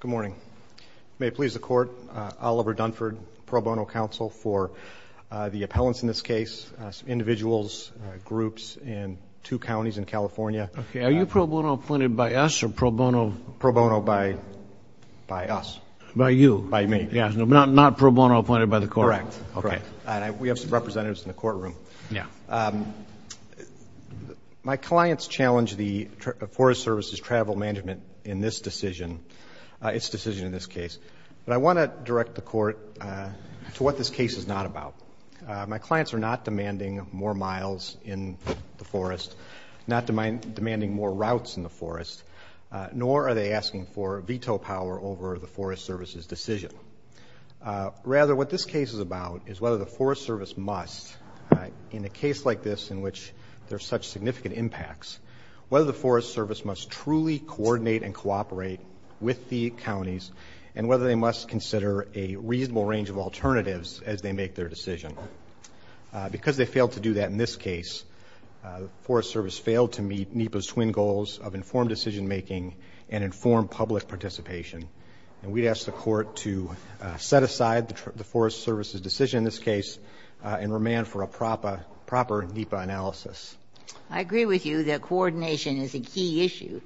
Good morning. May it please the court, Oliver Dunford, pro bono counsel for the appellants in this case, individuals, groups, and two counties in California. Okay, are you pro bono appointed by us or pro bono? Pro bono by by us. By you? By me. Yeah, not pro bono appointed by the court. Correct. Okay. We have some representatives in the courtroom. Yeah. My clients challenge the Forest Services travel management in this decision, its decision in this case, but I want to direct the court to what this case is not about. My clients are not demanding more miles in the forest, not demanding more routes in the forest, nor are they asking for veto power over the Forest Services decision. Rather, what this case is about is whether the Forest Service must, in a case like this in which there's such significant impacts, whether the Forest Service must truly coordinate and cooperate with the counties, and whether they must consider a reasonable range of alternatives as they make their decision. Because they failed to do that in this case, the Forest Service failed to meet NEPA's twin goals of informed decision-making and informed public participation. And we'd ask the court to set aside the Forest Services decision in this case and demand for a proper NEPA analysis. I agree with you that coordination is a key issue.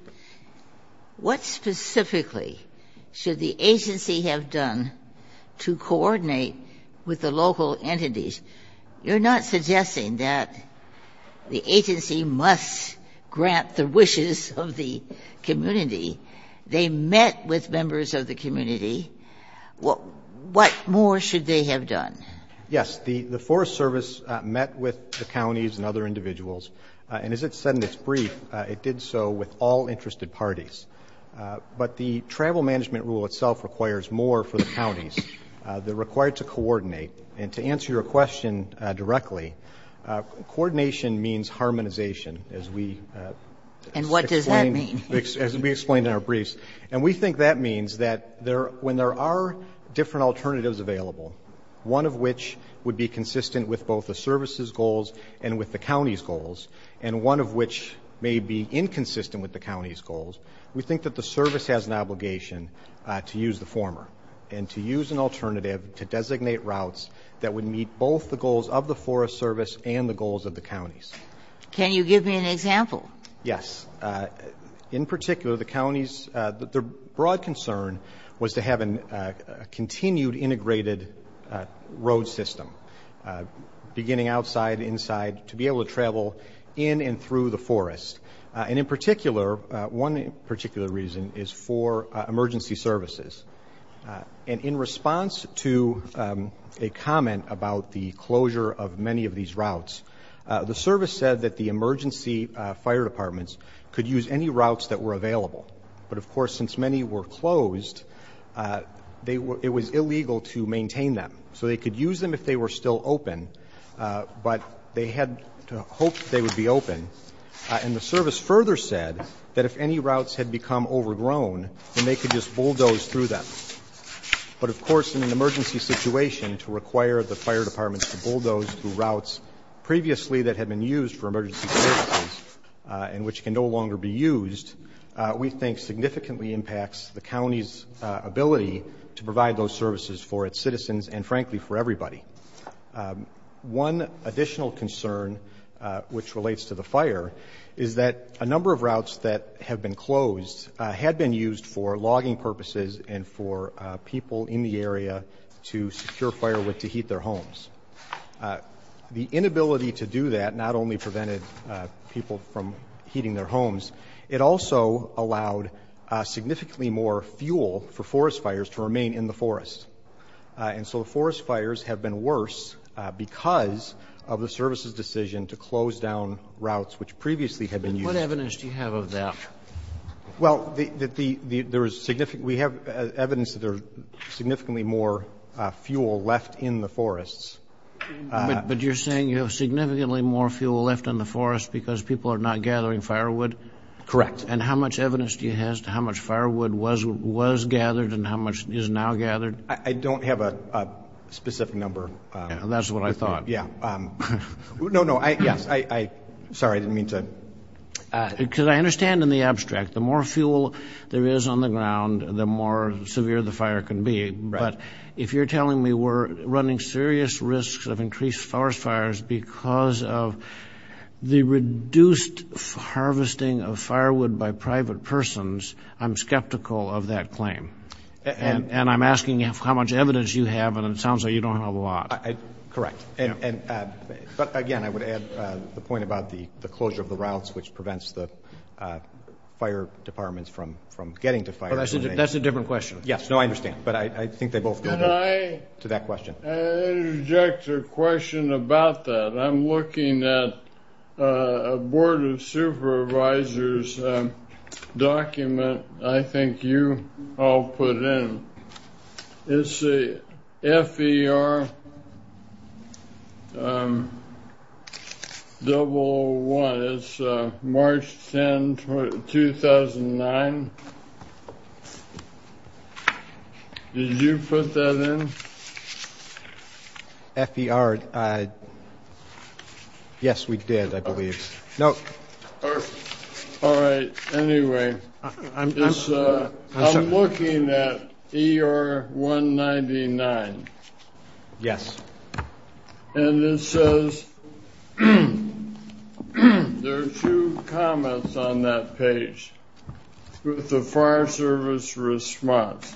What specifically should the agency have done to coordinate with the local entities? You're not suggesting that the agency must grant the wishes of the community. They met with members of the community. What more should they have done? Yes. The Forest Service met with the counties and other individuals. And as it said in its brief, it did so with all interested parties. But the travel management rule itself requires more for the counties that are required to coordinate. And to answer your question directly, coordination means harmonization, as we explained in our briefs. And we think that means that when there are different alternatives available, one of which would be consistent with both the service's goals and with the county's goals, and one of which may be inconsistent with the county's goals, we think that the service has an obligation to use the former and to use an alternative to designate routes that would meet both the goals of the Forest Service and the goals of the counties. Can you give me an example? Yes. In particular, the counties, their broad concern was to have a continued integrated road system, beginning outside, inside, to be able to travel in and through the forest. And in particular, one particular reason is for emergency services. And in response to a comment about the closure of many of the routes, the service said that the emergency fire departments could use any routes that were available. But, of course, since many were closed, they were – it was illegal to maintain them. So they could use them if they were still open, but they had hoped they would be open. And the service further said that if any routes had become overgrown, then they could just bulldoze through them. But, of course, in an emergency situation, to require the fire departments to bulldoze through routes previously that had been used for emergency services and which can no longer be used, we think significantly impacts the county's ability to provide those services for its citizens and, frankly, for everybody. One additional concern, which relates to the fire, is that a number of routes that have been closed had been used for logging purposes and for people in the area to secure firewood to heat their homes. The inability to do that not only prevented people from heating their homes. It also allowed significantly more fuel for forest fires to remain in the forest. And so the forest fires have been worse because of the service's decision to close down routes which previously had been used. Roberts. What evidence do you have of that? Well, we have evidence that there's significantly more fuel left in the forests. But you're saying you have significantly more fuel left in the forest because people are not gathering firewood? Correct. And how much evidence do you have as to how much firewood was gathered and how much is now gathered? I don't have a specific number. That's what I thought. Yeah. No, no. Yes. Sorry, I didn't mean to. Because I understand in the abstract, the more fuel there is on the ground, the more severe the fire can be. But if you're telling me we're running serious risks of increased forest fires because of the reduced harvesting of firewood by private persons, I'm skeptical of that claim. And I'm asking how much evidence you have. And it sounds like you don't have a lot. Correct. And again, I would add the point about the closure of the routes, which prevents the fire departments from getting to fire. That's a different question. Yes. No, I understand. But I think they both go to that question. I interject a question about that. I'm looking at a Board of Supervisors document, I think you all put in. It's the FER001, it's March 10, 2009. Did you put that in? FER, yes, we did, I believe. All right. Anyway, I'm looking at ER199. Yes. And it says, there are two comments on that page with the fire service response.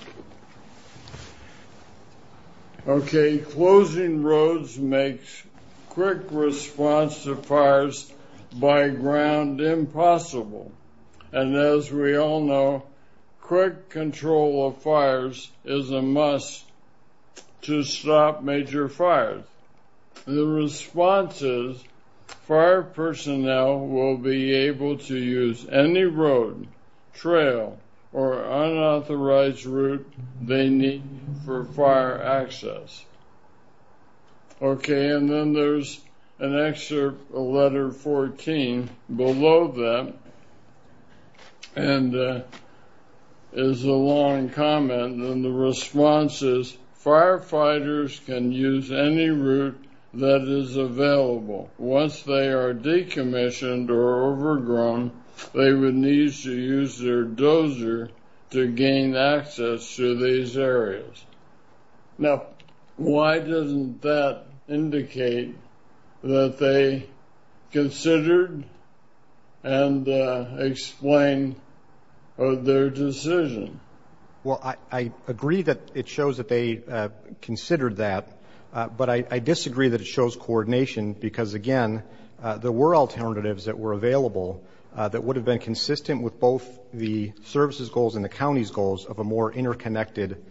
Okay. Closing roads makes quick response to fires by ground impossible. And as we all know, quick control of fires is a must to stop major fires. The response is, fire personnel will be able to use any road, trail, or unauthorized route they need for fire access. Okay, and then there's an extra letter 14 below that, and is a long comment. And the response is, firefighters can use any route that is available. Once they are decommissioned or overgrown, they would need to use their own route to gain access to these areas. Now, why doesn't that indicate that they considered and explained their decision? Well, I agree that it shows that they considered that, but I disagree that it shows coordination because again, there were alternatives that were available that would have been consistent with both the service's goals and the county's goals of a more interconnected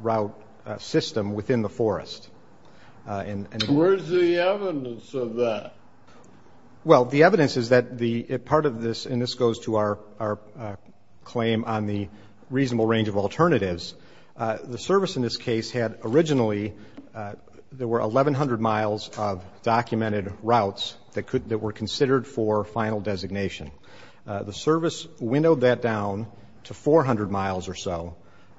route system within the forest. And where's the evidence of that? Well, the evidence is that the part of this, and this goes to our claim on the reasonable range of alternatives. The service in this case had originally, there were 1,100 miles of documented routes that were considered for final designation. The service winnowed that down to 400 miles or so,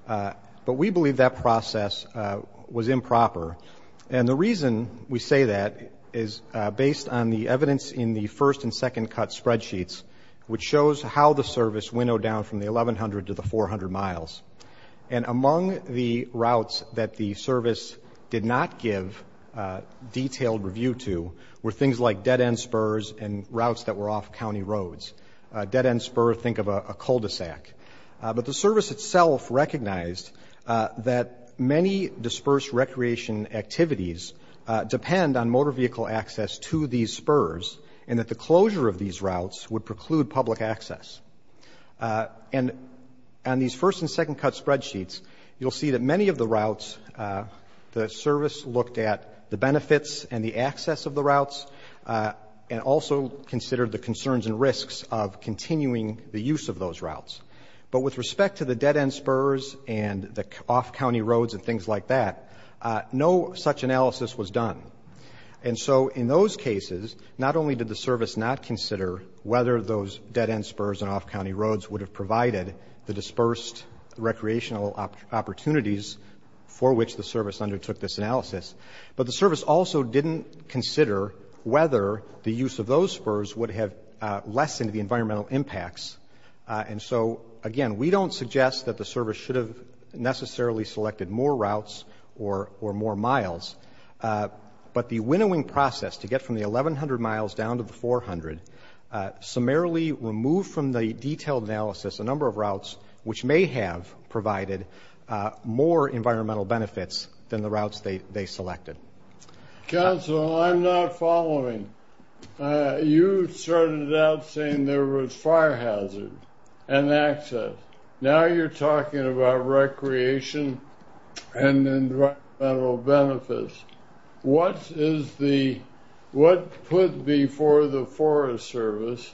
but we believe that process was improper, and the reason we say that is based on the evidence in the first and second cut spreadsheets, which shows how the service winnowed down from the 1,100 to the 400 miles, and among the routes that the service did not give detailed review to were things like dead-end spurs and routes that were off county roads. A dead-end spur, think of a cul-de-sac, but the service itself recognized that many dispersed recreation activities depend on motor vehicle access to these spurs, and that the closure of these routes would preclude public access. And on these first and second cut spreadsheets, you'll see that many of the routes, the service looked at the benefits and the access of the routes, and also considered the concerns and risks of continuing the use of those routes. But with respect to the dead-end spurs and the off county roads and things like that, no such analysis was done. And so in those cases, not only did the service not consider whether those dead-end spurs and off county roads would have provided the dispersed recreational opportunities for which the service undertook this analysis, but the service also didn't consider whether the use of those spurs would have lessened the environmental impacts. And so, again, we don't suggest that the service should have necessarily selected more routes or more miles, but the winnowing process to get from the 1,100 miles down to the 400 summarily removed from the detailed analysis a number of more environmental benefits than the routes they selected. Council, I'm not following. You started out saying there was fire hazard and access. Now you're talking about recreation and environmental benefits. What put before the Forest Service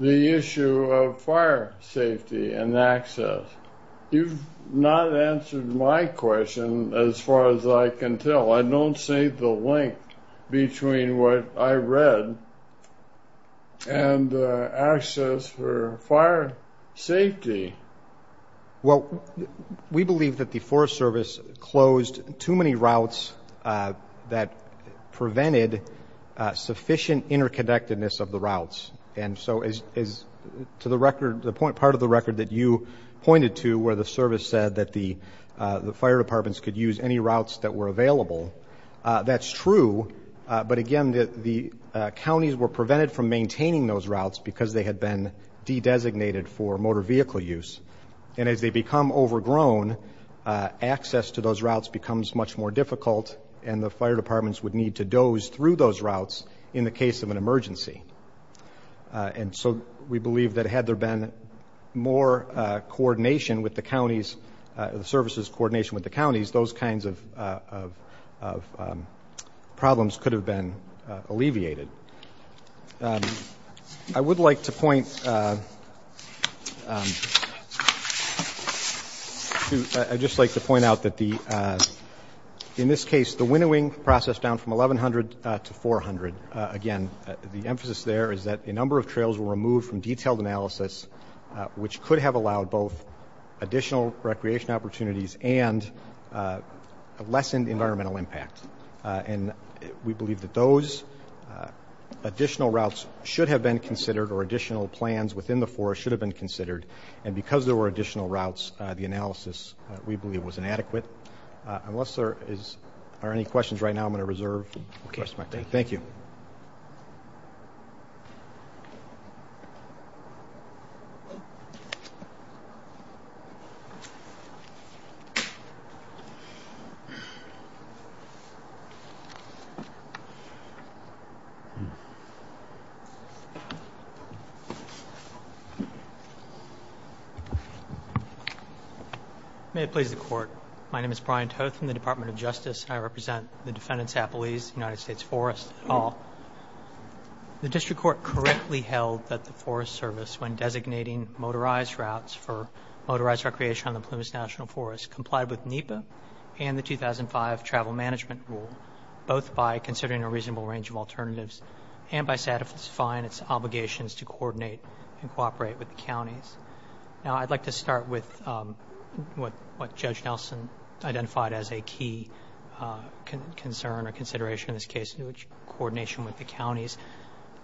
the issue of fire safety and access? You've not answered my question as far as I can tell. I don't see the link between what I read and access for fire safety. Well, we believe that the Forest Service closed too many routes that prevented sufficient interconnectedness of the routes. And so, to the record, the part of the record that you pointed to where the service said that the fire departments could use any routes that were available, that's true, but again, the counties were prevented from maintaining those routes because they had been de-designated for motor vehicle use, and as they become overgrown, access to those routes becomes much more difficult and the fire departments would need to doze through those routes in the case of an emergency. And so, we believe that had there been more coordination with the counties, the services coordination with the counties, those kinds of problems could have been alleviated. I would like to point out that in this case, the winnowing process down from the number of trails were removed from detailed analysis, which could have allowed both additional recreation opportunities and lessened environmental impact, and we believe that those additional routes should have been considered or additional plans within the forest should have been considered, and because there were additional routes, the analysis, we believe, was inadequate. Unless there are any questions right now, I'm going to reserve my time. Thank you. May it please the court. My name is Brian Toth from the Department of Justice, and I represent the defendants' appellees, United States Forest, et al. The district court correctly held that the Forest Service, when designating motorized routes for motorized recreation on the Plumas National Forest, complied with NEPA and the 2005 Travel Management Rule, both by considering a reasonable range of alternatives and by satisfying its obligations to coordinate and cooperate with the counties. Now, I'd like to start with what Judge Nelson identified as a key concern or obligation with the counties.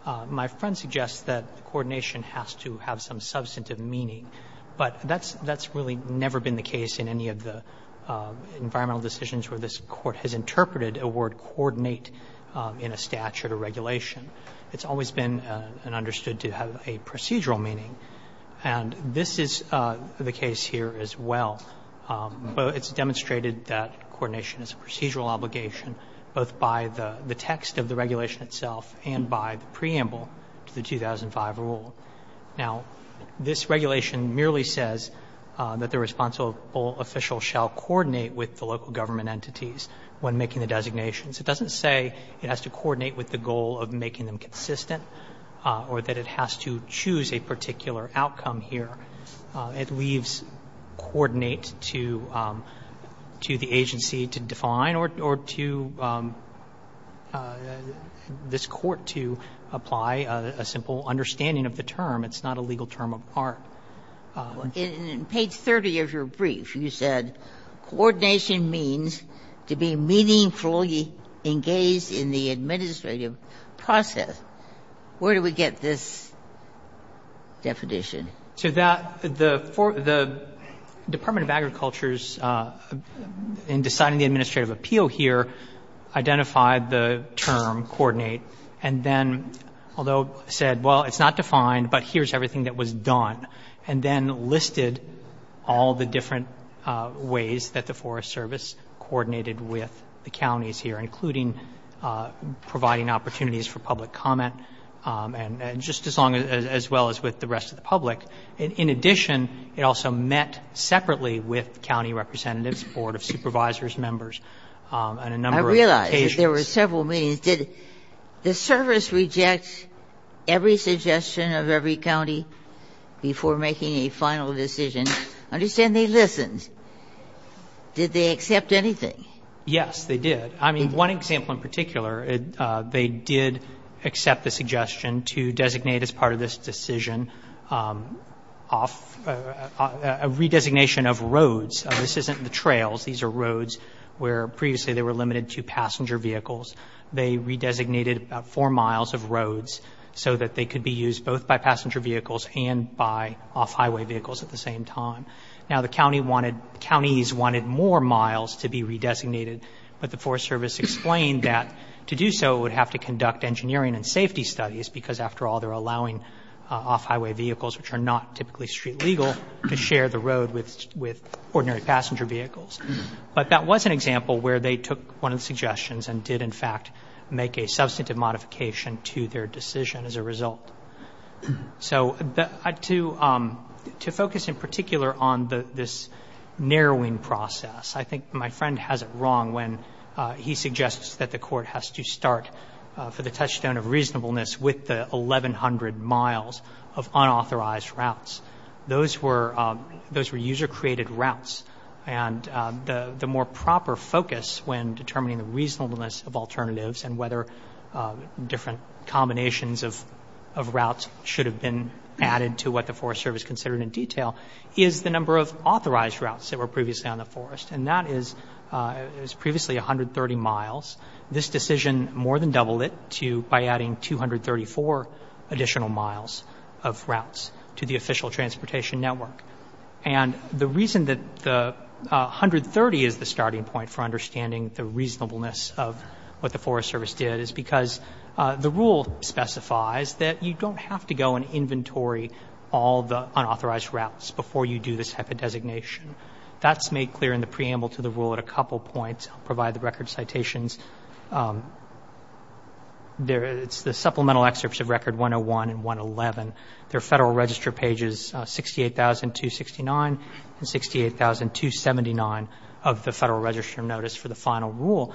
My friend suggests that coordination has to have some substantive meaning, but that's really never been the case in any of the environmental decisions where this court has interpreted a word coordinate in a statute or regulation. It's always been understood to have a procedural meaning, and this is the case here as well, but it's demonstrated that coordination is a procedural obligation both by the text of the regulation itself and by the preamble to the 2005 rule. Now, this regulation merely says that the responsible official shall coordinate with the local government entities when making the designations. It doesn't say it has to coordinate with the goal of making them consistent or that it has to choose a particular outcome here. It leaves coordinate to the agency to define or to this court to apply a simple understanding of the term. It's not a legal term of part. Ginsburg. In page 30 of your brief, you said coordination means to be meaningfully engaged in the administrative process. Where do we get this definition? So that the Department of Agriculture's in deciding the administrative appeal here identified the term coordinate and then although said, well, it's not defined, but here's everything that was done and then listed all the different ways that the Forest Service coordinated with the counties here, including providing opportunities for public comment and just as long as well as with the rest of the public. In addition, it also met separately with county representatives, board of supervisors, members, and a number of occasions. I realize that there were several meetings. Did the service reject every suggestion of every county before making a final decision? I understand they listened. Did they accept anything? Yes, they did. I mean, one example in particular, they did accept the suggestion to designate as part of this decision a redesignation of roads. This isn't the trails. These are roads where previously they were limited to passenger vehicles. They redesignated four miles of roads so that they could be used both by passenger vehicles and by off-highway vehicles at the same time. Now, the counties wanted more miles to be redesignated, but the Forest Service explained that to do so, it would have to conduct engineering and safety studies because, after all, they're allowing off-highway vehicles, which are not typically street legal, to share the road with ordinary passenger vehicles. But that was an example where they took one of the suggestions and did, in fact, make a substantive modification to their decision as a result. So to focus in particular on this narrowing process, I think my friend has it wrong when he suggests that the court has to start for the touchstone of reasonableness with the 1,100 miles of unauthorized routes. Those were user-created routes. And the more proper focus when determining the reasonableness of alternatives and whether different combinations of routes should have been added to what the Forest Service considered in detail is the number of authorized routes that were previously on the forest. And that is previously 130 miles. This decision more than doubled it to by adding 234 additional miles of routes to the official transportation network. And the reason that the 130 is the starting point for understanding the reasonableness of what the Forest Service did is because the rule specifies that you don't have to go and inventory all the unauthorized routes before you do this type of designation. That's made clear in the preamble to the rule at a couple points. I'll provide the record citations. It's the supplemental excerpts of Record 101 and 111. They're Federal Register pages 68,269 and 68,279 of the Federal Register Notice for the final rule.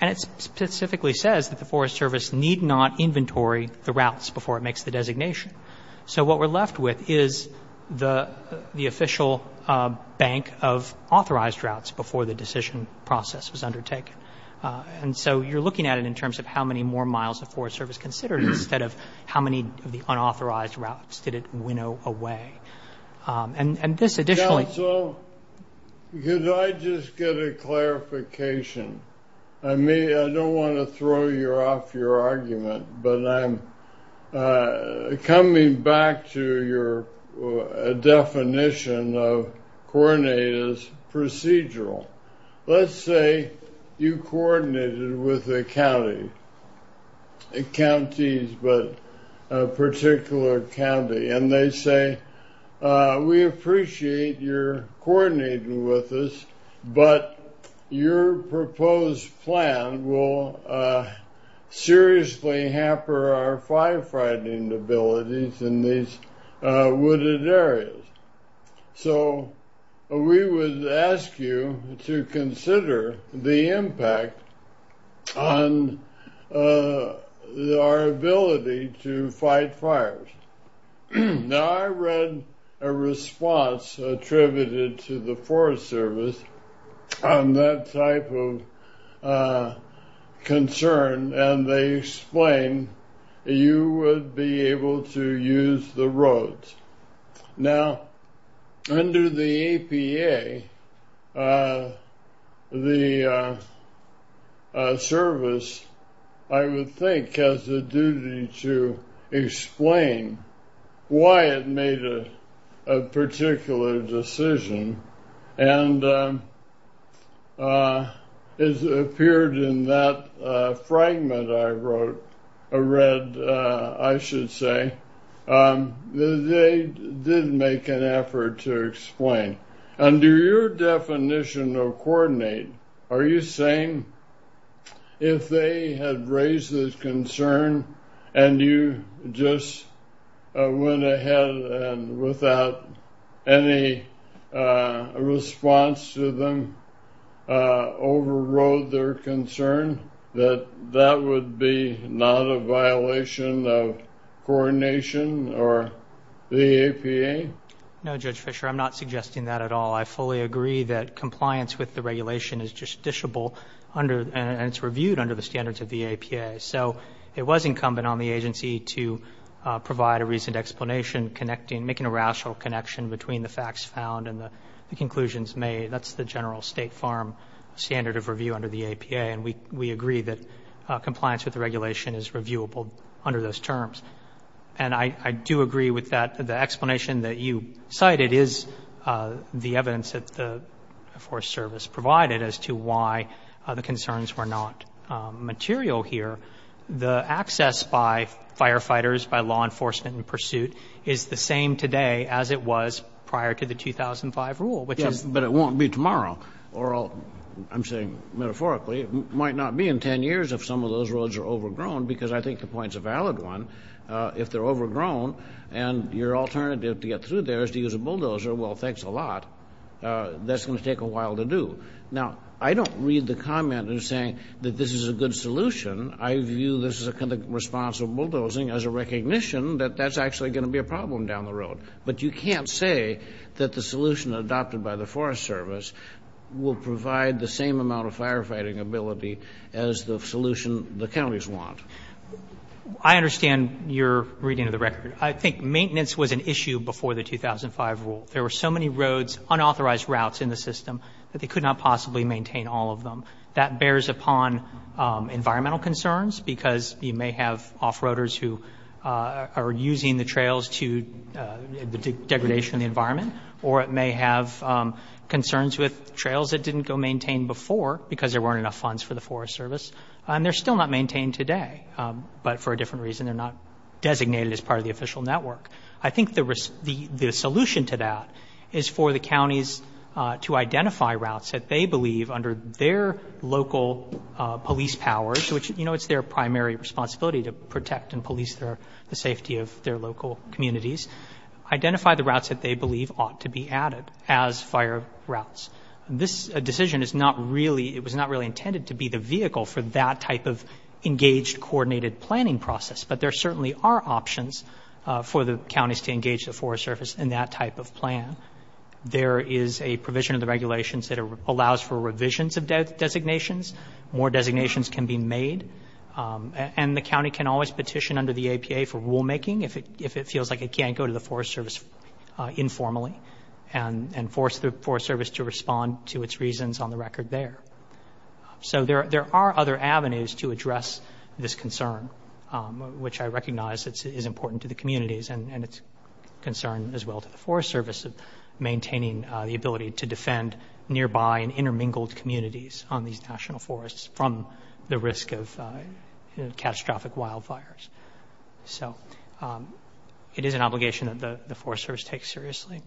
And it specifically says that the Forest Service need not inventory the routes before it makes the designation. So what we're left with is the official bank of authorized routes before the decision process was undertaken. And so you're looking at it in terms of how many more miles the Forest Service considered instead of how many of the unauthorized routes did it winnow away. And this additionally... Counsel, could I just get a clarification? I mean, I don't want to throw you off your argument, but I'm coming back to your definition of coordinate as procedural. Let's say you coordinated with a county, counties, but a particular county, and they say, we appreciate your coordinating with us, but your proposed plan will seriously hamper our firefighting abilities in these wooded areas. So we would ask you to consider the impact on our ability to fight fires. Now, I read a response attributed to the Forest Service on that type of concern, and they explained you would be able to use the roads. Now, under the APA, the service, I would think, has a duty to explain why it made a particular decision. And it appeared in that fragment I read, I should say, that they did make an effort to explain. Under your definition of coordinate, are you saying if they had raised this concern and you just went ahead and without any response to them overrode their concern, that that would be not a violation of coordination or the APA? No, Judge Fischer, I'm not suggesting that at all. I fully agree that compliance with the regulation is justiciable and it's reviewed under the standards of the APA. So it was incumbent on the agency to provide a reasoned explanation, connecting, making a rational connection between the facts found and the conclusions made. That's the general State Farm standard of review under the APA. And we agree that compliance with the regulation is reviewable under those terms. And I do agree with that. The explanation that you cited is the evidence that the Forest Service provided as to why the concerns were not material here. The access by firefighters, by law enforcement in pursuit is the same today as it was prior to the 2005 rule, which is — Yes, but it won't be tomorrow. Or I'm saying metaphorically, it might not be in 10 years if some of those roads are overgrown, because I think the point's a valid one. If they're overgrown and your alternative to get through there is to use a bulldozer, well, thanks a lot. That's going to take a while to do. Now, I don't read the comment as saying that this is a good solution. I view this as a kind of responsible bulldozing as a recognition that that's actually going to be a problem down the road. But you can't say that the solution adopted by the Forest Service will provide the same amount of firefighting ability as the solution the counties want. I understand your reading of the record. I think maintenance was an issue before the 2005 rule. There were so many roads, unauthorized routes in the system, that they could not possibly maintain all of them. That bears upon environmental concerns, because you may have off-roaders who are using the trails to — the degradation of the environment. Or it may have concerns with trails that didn't go maintained before because there weren't enough funds for the Forest Service. And they're still not maintained today, but for a different reason. They're not designated as part of the official network. I think the solution to that is for the counties to identify routes that they believe, under their local police powers — which, you know, it's their primary responsibility to protect and police the safety of their local communities — identify the routes that they believe ought to be added as fire routes. This decision is not really — it was not really intended to be the vehicle for that type of engaged, coordinated planning process. But there certainly are options for the counties to engage the Forest Service in that type of plan. There is a provision in the regulations that allows for revisions of designations. More designations can be made. And the county can always petition under the APA for rulemaking if it feels like it can't go to the Forest Service informally and force the Forest Service to respond to its reasons on the record there. So there are other avenues to address this concern, which I recognize is important to the communities, and it's a concern as well to the Forest Service of maintaining the ability to defend nearby and intermingled communities on these national forests from the risk of catastrophic wildfires. So it is an obligation that the Forest Service takes seriously.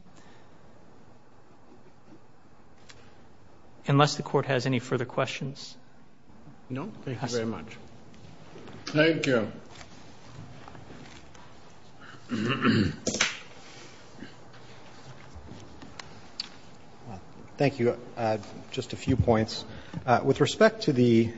Unless the Court has any further questions. No. Thank you very much. Thank you. Thank you. Just a few points. With respect to the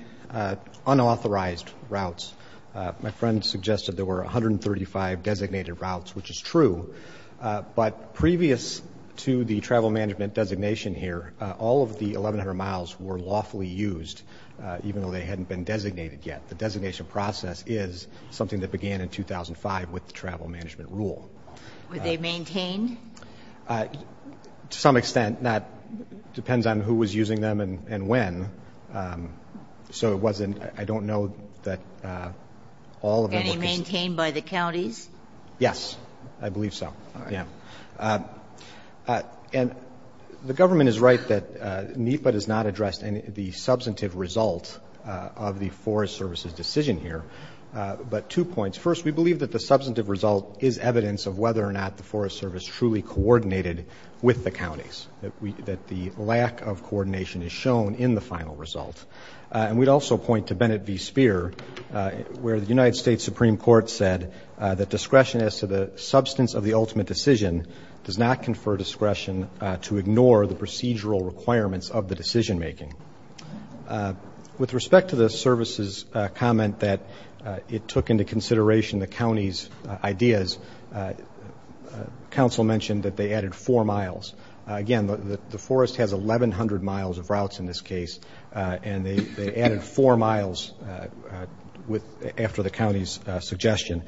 unauthorized routes, my friend suggested there were 135 designated routes, which is true. But previous to the travel management designation here, all of the 1,100 miles were lawfully used, even though they hadn't been designated yet. The designation process is something that began in 2005 with the travel management rule. Were they maintained? To some extent. That depends on who was using them and when. So it wasn't – I don't know that all of them were – Any maintained by the counties? Yes. I believe so, yeah. And the government is right that NEPA does not address the substantive result of the Forest Service's decision here. But two points. First, we believe that the substantive result is evidence of whether or not the Forest Service truly coordinated with the counties, that the lack of coordination is shown in the final result. And we'd also point to Bennett v. Speer, where the United States Supreme Court said that discretion as to the substance of the ultimate decision does not confer discretion to ignore the procedural requirements of the decision-making. With respect to the Service's comment that it took into consideration the counties' ideas, counsel mentioned that they added four miles. Again, the forest has 1,100 miles of routes in this case, and they added four miles after the counties' suggestion.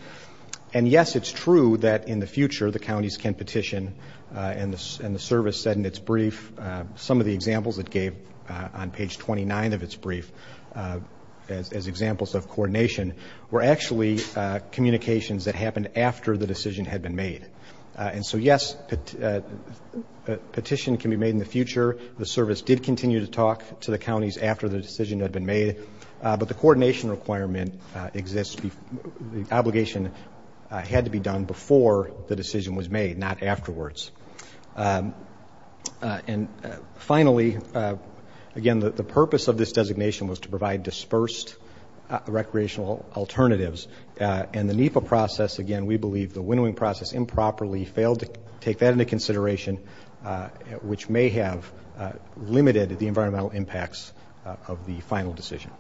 And yes, it's true that in the future the counties can petition, and the Service said in its brief – some of the examples it gave on page 29 of its brief as examples of coordination were actually communications that happened after the decision had been made. And so yes, a petition can be made in the future. The Service did continue to talk to the counties after the decision had been made. But the coordination requirement exists – the obligation had to be done before the decision was made, not afterwards. And finally, again, the purpose of this designation was to provide dispersed recreational alternatives. And the NEPA process, again, we believe the winnowing process improperly failed to take that into consideration, which may have limited the environmental impacts of the final decision.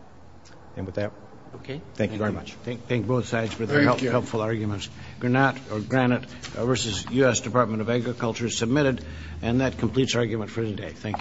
And with that, thank you very much. Thank you. Thank both sides for their helpful arguments. Granite versus U.S. Department of Agriculture is submitted. And that completes our argument for today. Thank you very much.